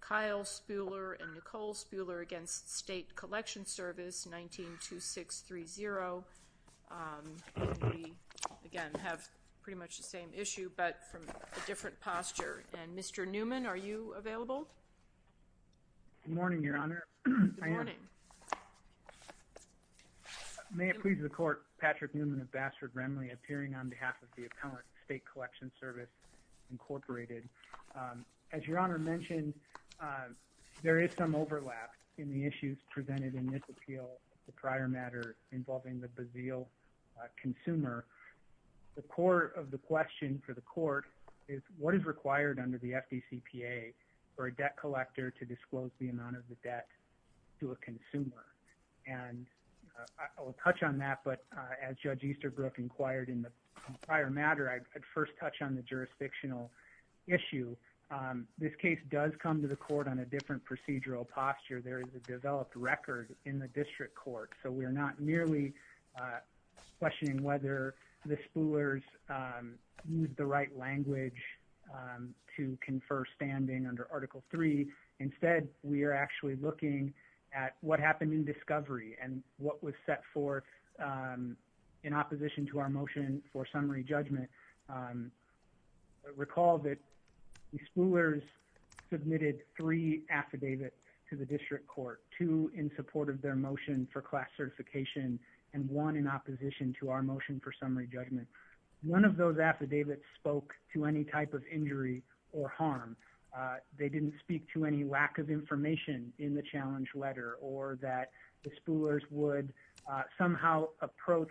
Kyle Spuhler and Nicole Spuhler v. State Collection Service, 19-2630. We, again, have pretty much the same issue but from a different posture. And, Mr. Newman, are you available? Good morning, Your Honor. Good morning. May it please the Court, Patrick Newman of Bassford-Renley, appearing on behalf of the appellant, State Collection Service, Incorporated. As Your Honor mentioned, there is some overlap in the issues presented in this appeal, the prior matter involving the Bazille consumer. The core of the question for the Court is what is required under the FDCPA for a debt collector to disclose the amount of the debt to a consumer. And I will touch on that, but as Judge Easterbrook inquired in the prior matter, I'd first touch on the jurisdictional issue. This case does come to the Court on a different procedural posture. There is a developed record in the District Court, so we're not merely questioning whether the Spuhlers used the right language to confer standing under Article III. Instead, we are actually looking at what happened in discovery and what was set forth in opposition to our motion for summary judgment. Recall that the Spuhlers submitted three affidavits to the District Court, two in support of their motion for class certification and one in opposition to our motion for summary judgment. One of those affidavits spoke to any type of injury or harm. They didn't speak to any lack of information in the challenge letter or that the Spuhlers would somehow approach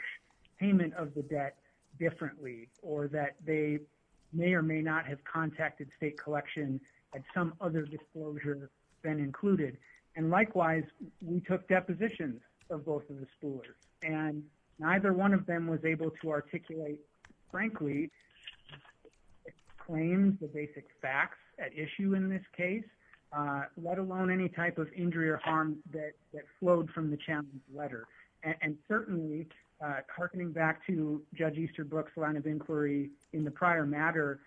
payment of the debt differently or that they may or may not have contacted State Collection had some other disclosure been included. And likewise, we took depositions of both of the Spuhlers, and neither one of them was able to articulate frankly claims, the basic facts at issue in this case, let alone any type of injury or harm that flowed from the challenge letter. And certainly, hearkening back to Judge Easterbrook's line of inquiry in the prior matter,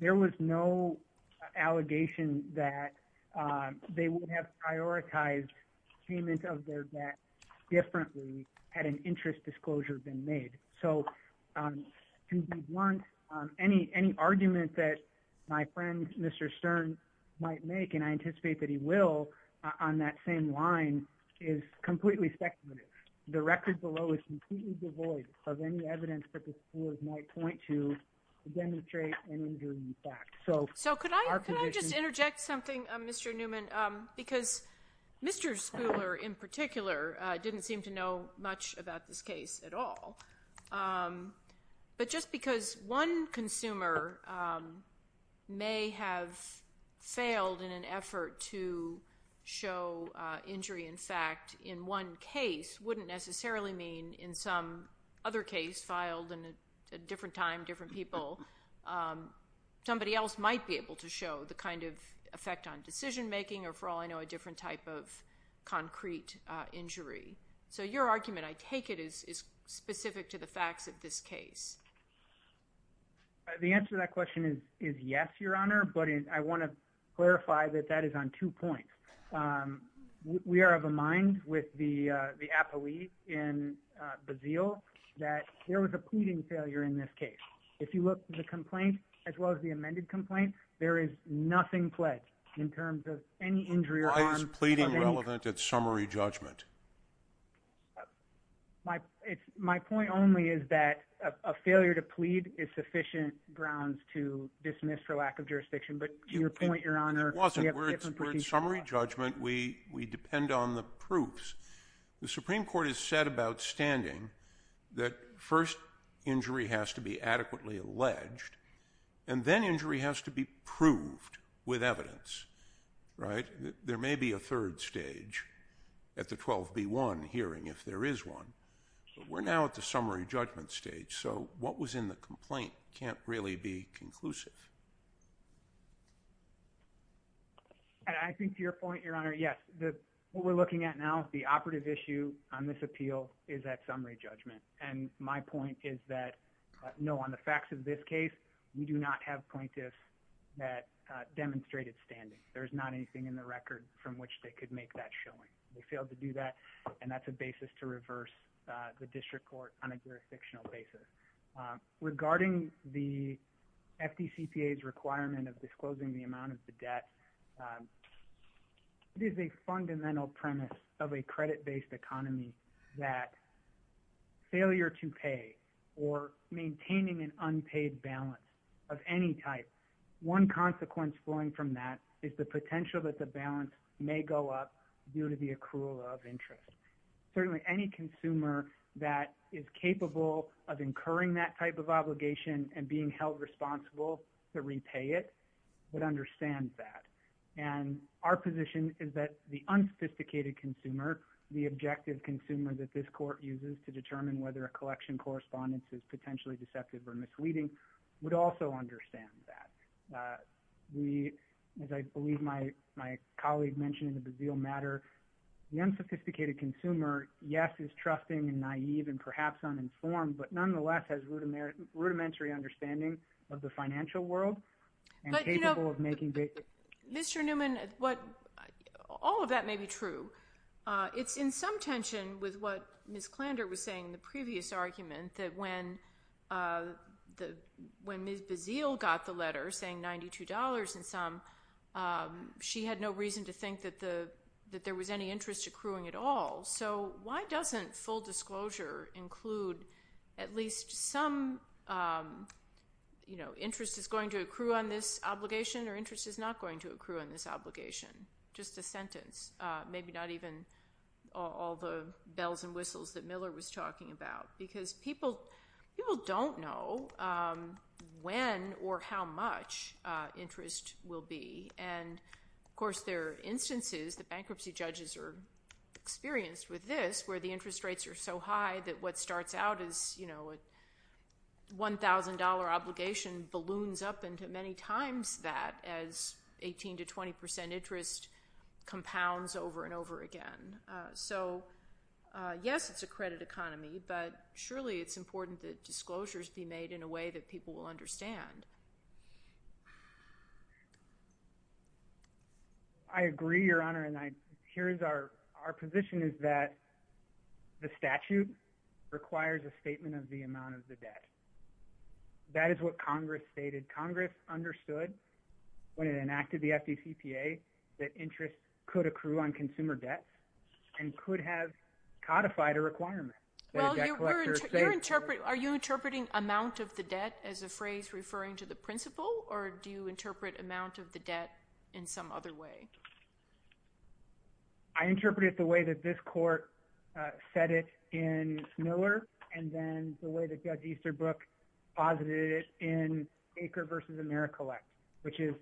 there was no allegation that they would have prioritized payment of their debt differently had an interest disclosure been made. So to be blunt, any argument that my friend Mr. Stern might make, and I anticipate that he will on that same line, is completely speculative. The record below is completely devoid of any evidence that the Spuhlers might point to to demonstrate an injury in fact. So could I just interject something, Mr. Newman, because Mr. Spuhler in particular didn't seem to know much about this case at all. But just because one consumer may have failed in an effort to show injury in fact in one case wouldn't necessarily mean in some other case filed at a different time, different people, somebody else might be able to show the kind of effect on decision making or for all I know, a different type of concrete injury. So your argument, I take it, is specific to the facts of this case. The answer to that question is yes, Your Honor, but I want to clarify that that is on two points. We are of a mind with the appellee in Bazille that there was a pleading failure in this case. If you look at the complaint, as well as the amended complaint, there is nothing pledged in terms of any injury or harm. Why is pleading relevant at summary judgment? My point only is that a failure to plead is sufficient grounds to dismiss for lack of jurisdiction, but to your point, Your Honor, we have different points of view. We're at summary judgment. We depend on the proofs. The Supreme Court has said about standing that first injury has to be adequately alleged and then injury has to be proved with evidence, right? There may be a third stage at the 12B1 hearing if there is one, but we're now at the summary judgment stage, so what was in the complaint can't really be conclusive. I think to your point, Your Honor, yes, what we're looking at now, the operative issue on this appeal is at summary judgment, and my point is that no, on the facts of this case, we do not have plaintiffs that demonstrated standing. There's not anything in the record from which they could make that showing. They failed to do that, and that's a basis to reverse the district court on a jurisdictional basis. Regarding the FDCPA's requirement of disclosing the amount of the debt, it is a fundamental premise of a credit-based economy that failure to pay or maintaining an unpaid balance of any type, one consequence flowing from that is the potential that the balance may go up due to the accrual of interest. Certainly any consumer that is capable of incurring that type of obligation and being held responsible to repay it would understand that, and our position is that the unsophisticated consumer, the objective consumer that this court uses to determine whether a collection correspondence is potentially deceptive or misleading would also understand that. As I believe my colleague mentioned in the Bazille matter, the unsophisticated consumer, yes, is trusting and naive and perhaps uninformed, but nonetheless has rudimentary understanding of the financial world and capable of making basic decisions. Mr. Newman, all of that may be true. It's in some tension with what Ms. Klander was saying in the previous argument, that when Ms. Bazille got the letter saying $92 in sum, she had no reason to think that there was any interest accruing at all. So why doesn't full disclosure include at least some, you know, interest is going to accrue on this obligation or interest is not going to accrue on this obligation? Just a sentence. Maybe not even all the bells and whistles that Miller was talking about because people don't know when or how much interest will be. And, of course, there are instances, the bankruptcy judges are experienced with this, where the interest rates are so high that what starts out as, you know, $1,000 obligation balloons up into many times that as 18% to 20% interest compounds over and over again. So, yes, it's a credit economy, but surely it's important that disclosures be made in a way that people will understand. I agree, Your Honor, and here is our position, is that the statute requires a statement of the amount of the debt. That is what Congress stated. Congress understood when it enacted the FDCPA that interest could accrue on consumer debt and could have codified a requirement. Well, you're interpreting, are you interpreting amount of the debt as a phrase referring to the principle or do you interpret amount of the debt in some other way? I interpret it the way that this court said it in Miller and then the way that Judge Easterbrook posited it in Baker v. AmeriCollect, which is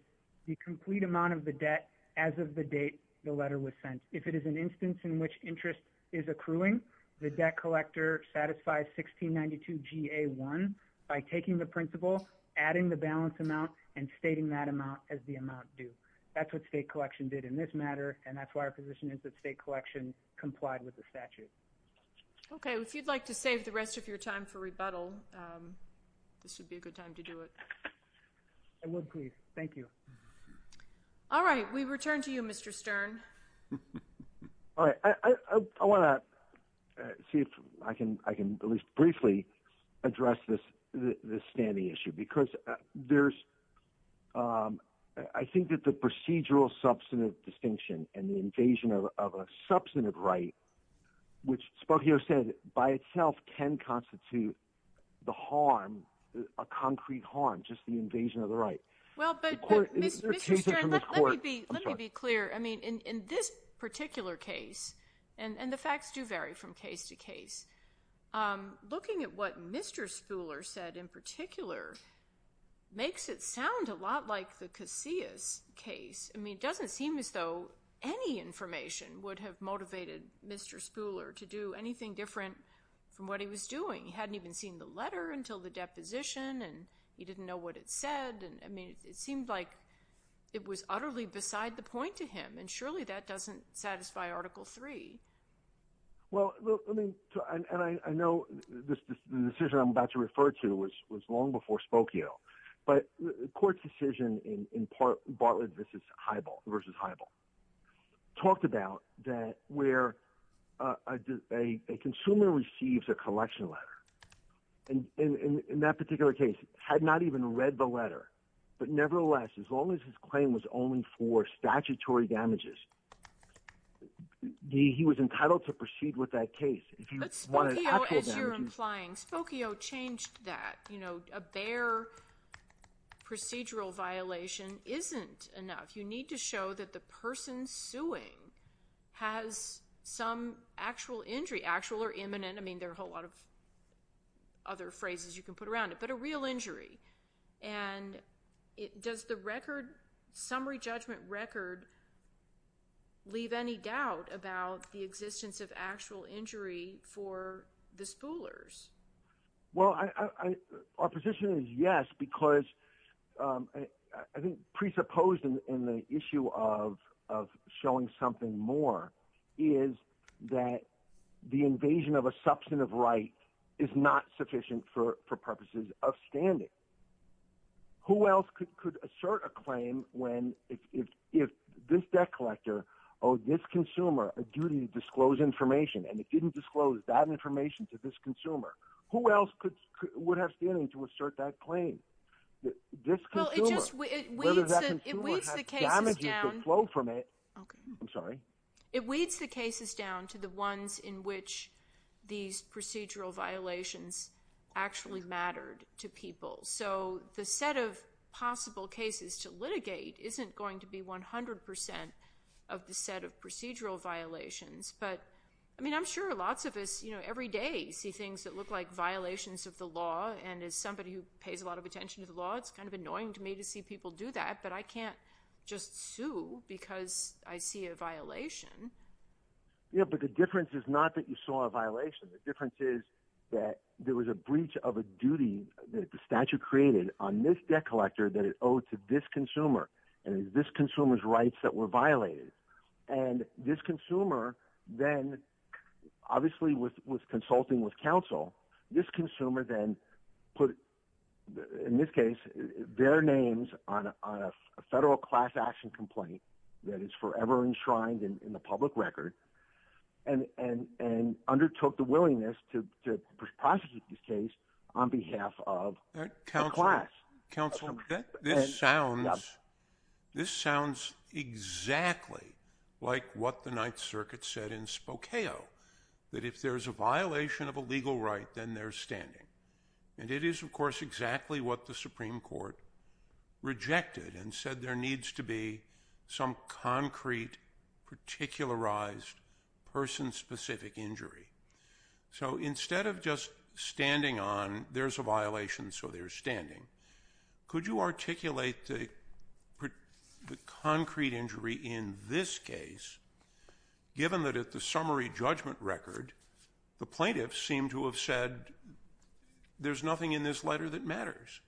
the complete amount of the debt as of the date the letter was sent. If it is an instance in which interest is accruing, the debt collector satisfies 1692 GA1 by taking the principle, adding the balance amount, and stating that amount as the amount due. That's what state collection did in this matter, and that's why our position is that state collection complied with the statute. Okay. If you'd like to save the rest of your time for rebuttal, this would be a good time to do it. I would please. Thank you. All right. We return to you, Mr. Stern. All right. I want to see if I can, I can at least briefly address this, this standing issue, because there's I think that the procedural substantive distinction and the invasion of a substantive right, which Spokio said by itself can constitute the harm, a concrete harm, just the invasion of the right. Well, but let me be, let me be clear. I mean, in, in this particular case and the facts do vary from case to case. I'm looking at what Mr. Spooler said in particular makes it sound a lot like the Casillas case. I mean, it doesn't seem as though any information would have motivated Mr. Spooler to do anything different from what he was doing. He hadn't even seen the letter until the deposition and he didn't know what it said. And I mean, it seemed like it was utterly beside the point to him and surely that doesn't satisfy article three. Well, I mean, and I know this decision I'm about to refer to was, was long before Spokio, but the court's decision in, in part, Bartlett versus Heibel, talked about that where a consumer receives a collection letter, and in that particular case had not even read the letter, but nevertheless, as long as his claim was only for statutory damages, he was entitled to proceed with that case. As you're implying Spokio changed that, you know, a bare procedural violation isn't enough. You need to show that the person suing has some actual injury, actual or imminent. I mean, there are a whole lot of other phrases you can put around it, but a real injury. And it does the record summary judgment record leave any doubt about the existence of actual injury for the spoolers? Well, I, I, our position is yes, because I, I think presupposed in the issue of, of showing something more is that the invasion of a substantive right is not sufficient for purposes of standing. Who else could assert a claim when if, if this debt collector owed this consumer a duty to disclose information and it didn't disclose that information to this consumer, who else would have standing to assert that claim? Well, it just, it weeds the cases down to the ones in which these procedural violations actually mattered to people. So the set of possible cases to litigate isn't going to be 100% of the set of procedural violations. But I mean, I'm sure lots of us, you know, every day see things that look like violations of the law. And as somebody who pays a lot of attention to the law, it's kind of annoying to me to see people do that, but I can't just sue because I see a violation. Yeah. But the difference is not that you saw a violation. The difference is that there was a breach of a duty that the statute created on this debt collector that it owed to this consumer and this consumer's rights that were violated. And this consumer then obviously was, was consulting with counsel. This consumer then put, in this case, their names on a federal class action complaint that is forever enshrined in the public record and, and, and undertook the willingness to prosecute this case on behalf of the class. Counsel, this sounds, this sounds exactly like what the ninth circuit said in Spokane, that if there's a violation of a legal right, then they're standing. And it is of course, exactly what the Supreme Court rejected and said there needs to be some concrete particularized person specific injury. So instead of just standing on, there's a violation, so they're standing. Could you articulate the concrete injury in this case, given that at the summary judgment record, the plaintiffs seem to have said there's nothing in this letter that matters.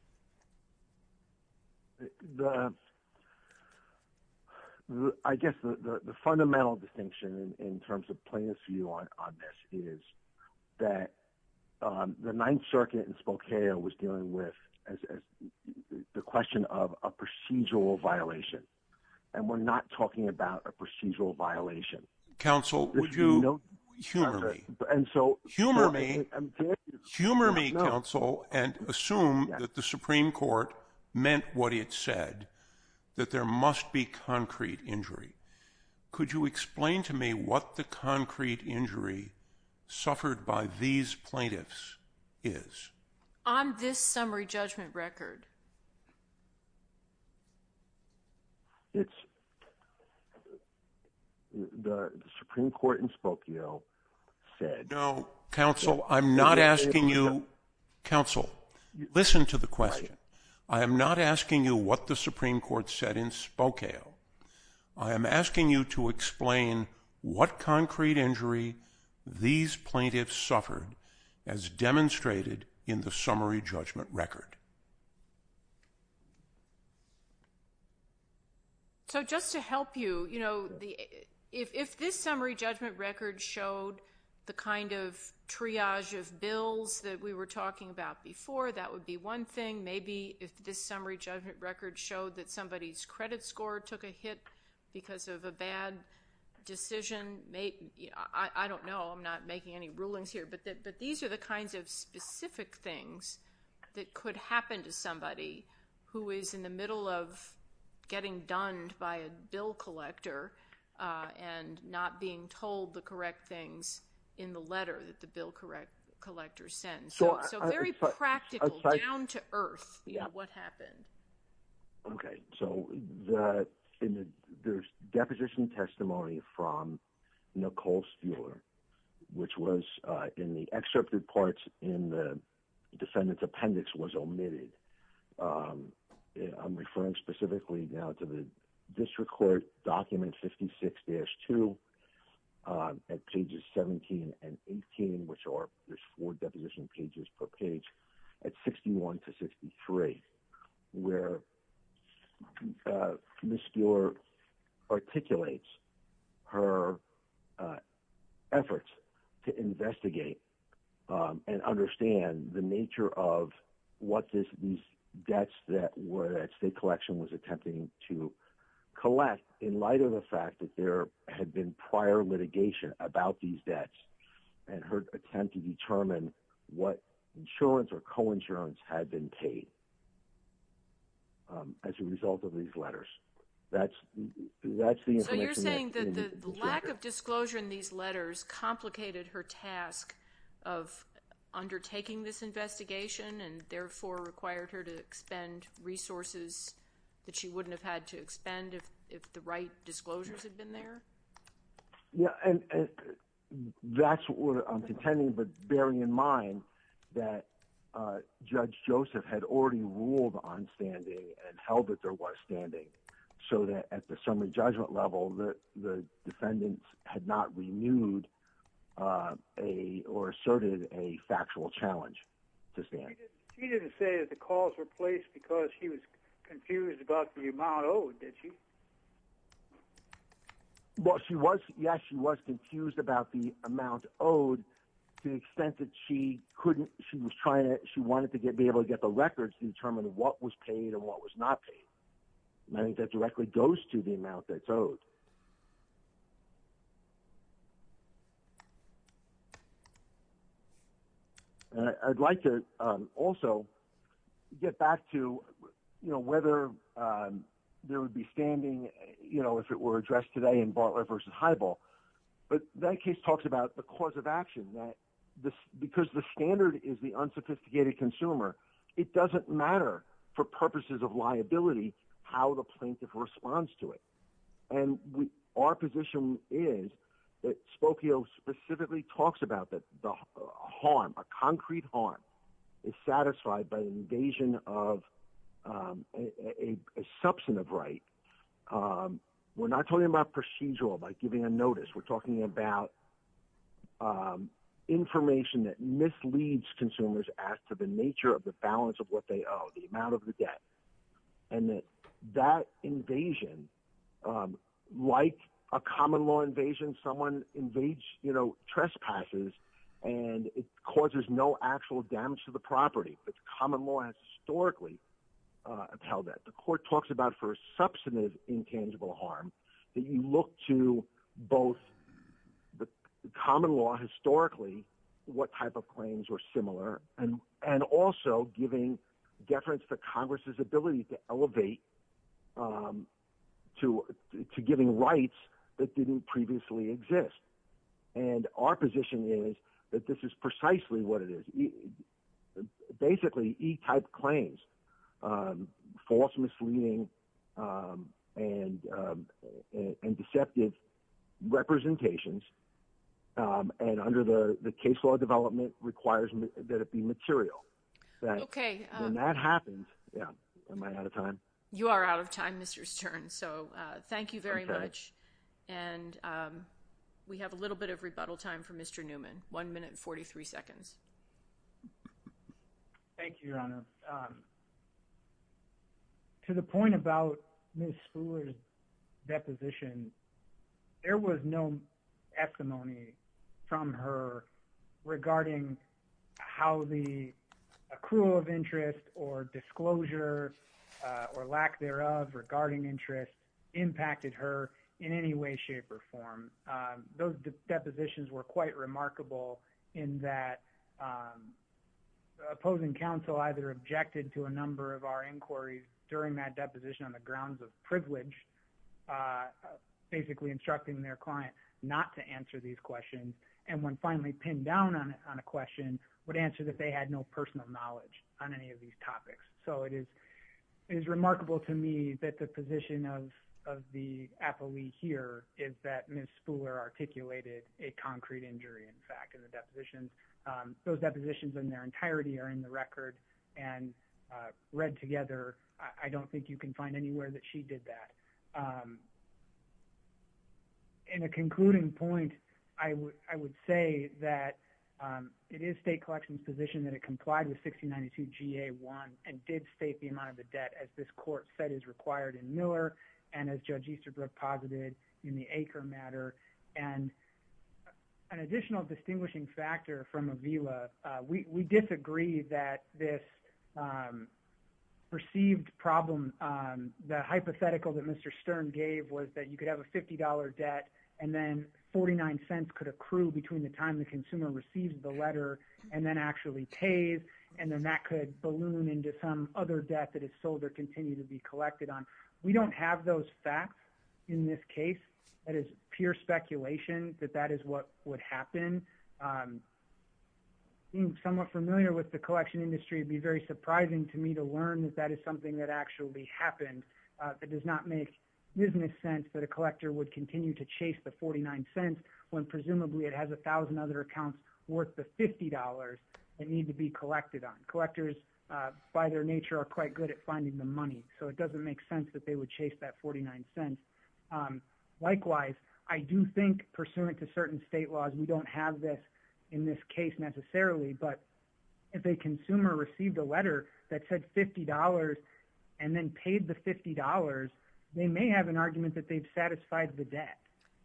I guess the fundamental distinction in terms of plaintiffs view on, on this is that the ninth circuit in Spokane was dealing with as the question of a procedural violation. And we're not talking about a procedural violation. Counsel would you know, humor me, humor me, humor me counsel and assume that the Supreme Court meant what it said, that there must be concrete injury. Could you explain to me what the concrete injury suffered by these plaintiffs is on this summary judgment record? It's the Supreme Court in Spokane. No counsel. I'm not asking you counsel. Listen to the question. I am not asking you what the Supreme Court said in Spokane. I am asking you to explain what concrete injury these plaintiffs suffered as demonstrated in the summary judgment record. So just to help you, you know, the, if this summary judgment record showed the kind of triage of bills that we were talking about before, that would be one thing. Maybe if this summary judgment record showed that somebody's credit score took a hit because of a bad decision, maybe, I don't know. I'm not making any rulings here, but that, but these are the kinds of specific things that could happen to somebody who is in the middle of getting done by a bill collector and not being told the correct things in the letter that the bill collector sends. So very practical, down to earth, you know, what happened? Okay. So the, in the, there's deposition testimony from Nicole Spuler, which was in the excerpt reports in the defendant's appendix was omitted. I'm referring specifically now to the district court document, 56-2 at pages 17 and 18, which are there's four deposition pages per page at 61 to 63 where Ms. Spuler articulates her efforts to investigate and understand the nature of what this these debts that were at state collection was attempting to collect in light of the fact that there had been prior litigation about these debts and her attempt to determine what insurance or coinsurance had been paid as a result of these letters. That's, that's the information. So you're saying that the lack of disclosure in these letters complicated her task of undertaking this investigation and therefore required her to expend resources that she wouldn't have had to expend if, if the right disclosures had been there? Yeah. And that's what I'm contending, but bearing in mind that Judge Joseph had already ruled on standing and held that there was standing so that at the summary judgment level, the defendants had not renewed a or asserted a factual challenge to stand. She didn't say that the calls were placed because she was confused about the amount owed, did she? Well, she was, yes, she was confused about the amount owed to the extent that she couldn't, she was trying to, she wanted to get be able to get the records to determine what was paid and what was not paid. And I think that directly goes to the amount that's owed. I'd like to also get back to, you know, whether there would be standing, you know, if it were addressed today in Bartlett versus high ball, but that case talks about the cause of action that this, because the standard is the unsophisticated consumer. It doesn't matter for purposes of liability, how the plaintiff responds to it. And we, our position is that Spokio specifically talks about that the harm, a concrete harm is satisfied by the invasion of a, a substantive right. We're not talking about procedural by giving a notice. We're talking about information that misleads consumers as to the nature of the balance of what they owe, the amount of the debt, and that that invasion like a common law invasion, someone invades, you know, trespasses and it causes no actual damage to the property. But the common law has historically held that the court talks about for a substantive intangible harm that you look to both the common law historically, what type of claims were similar and, and also giving deference to Congress's ability to elevate to, to giving rights that didn't previously exist. And our position is that this is precisely what it is. Basically E type claims false misleading and, and deceptive representations. Um, and under the case law development requires that it be material. Okay. And that happens. Yeah. Am I out of time? You are out of time, Mr. Stern. So, uh, thank you very much. And, um, we have a little bit of rebuttal time for Mr. Newman, one minute, 43 seconds. Thank you, Your Honor. Um, to the point about Ms. Fuller's deposition, there was no estimony from her regarding how the accrual of interest or disclosure, uh, or lack thereof regarding interest impacted her in any way, shape or form. Um, those depositions were quite remarkable in that, um, the opposing counsel either objected to a number of our inquiries during that deposition on the grounds of privilege, uh, basically instructing their client not to answer these questions. And when finally pinned down on, on a question would answer that they had no personal knowledge on any of these topics. So it is, it is remarkable to me that the position of, of the appellee here is that Ms. Fuller articulated a concrete injury. In fact, in the depositions, um, those depositions in their entirety are in the record and, uh, read together. I don't think you can find anywhere that she did that. Um, in a concluding point, I w I would say that, um, it is state collections position that it complied with 1692 GA one and did state the amount of the debt as this court said is required in Miller. And as judge Easterbrook posited in the acre matter, and an additional distinguishing factor from Avila, uh, we, we disagree that this, um, received problem. Um, the hypothetical that Mr. Stern gave was that you could have a $50 debt and then 49 cents could accrue between the time the consumer receives the letter and then actually pays. And then that could balloon into some other debt that is sold or continue to be collected on. We don't have those facts in this case. That is pure speculation that that is what would happen. Um, somewhat familiar with the collection industry. It'd be very surprising to me to learn that that is something that actually happens. Uh, that does not make business sense that a collector would continue to chase the 49 cents when presumably it has a thousand other accounts worth the $50 that need to be collected on collectors, uh, by their nature are quite good at finding the money. So it doesn't make sense that they would chase that 49 cents. Um, likewise, I do think pursuant to certain state laws, we don't have this in this case necessarily, but if a consumer received a letter that said $50 and then paid the amount paid the $50, they may have an argument that they've satisfied the debt.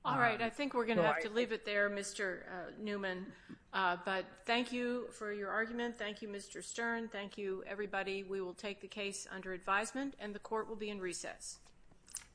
All right. I think we're going to have to leave it there, Mr. Newman. Uh, but thank you for your argument. Thank you, Mr. Stern. Thank you everybody. We will take the case under advisement and the court will be in recess.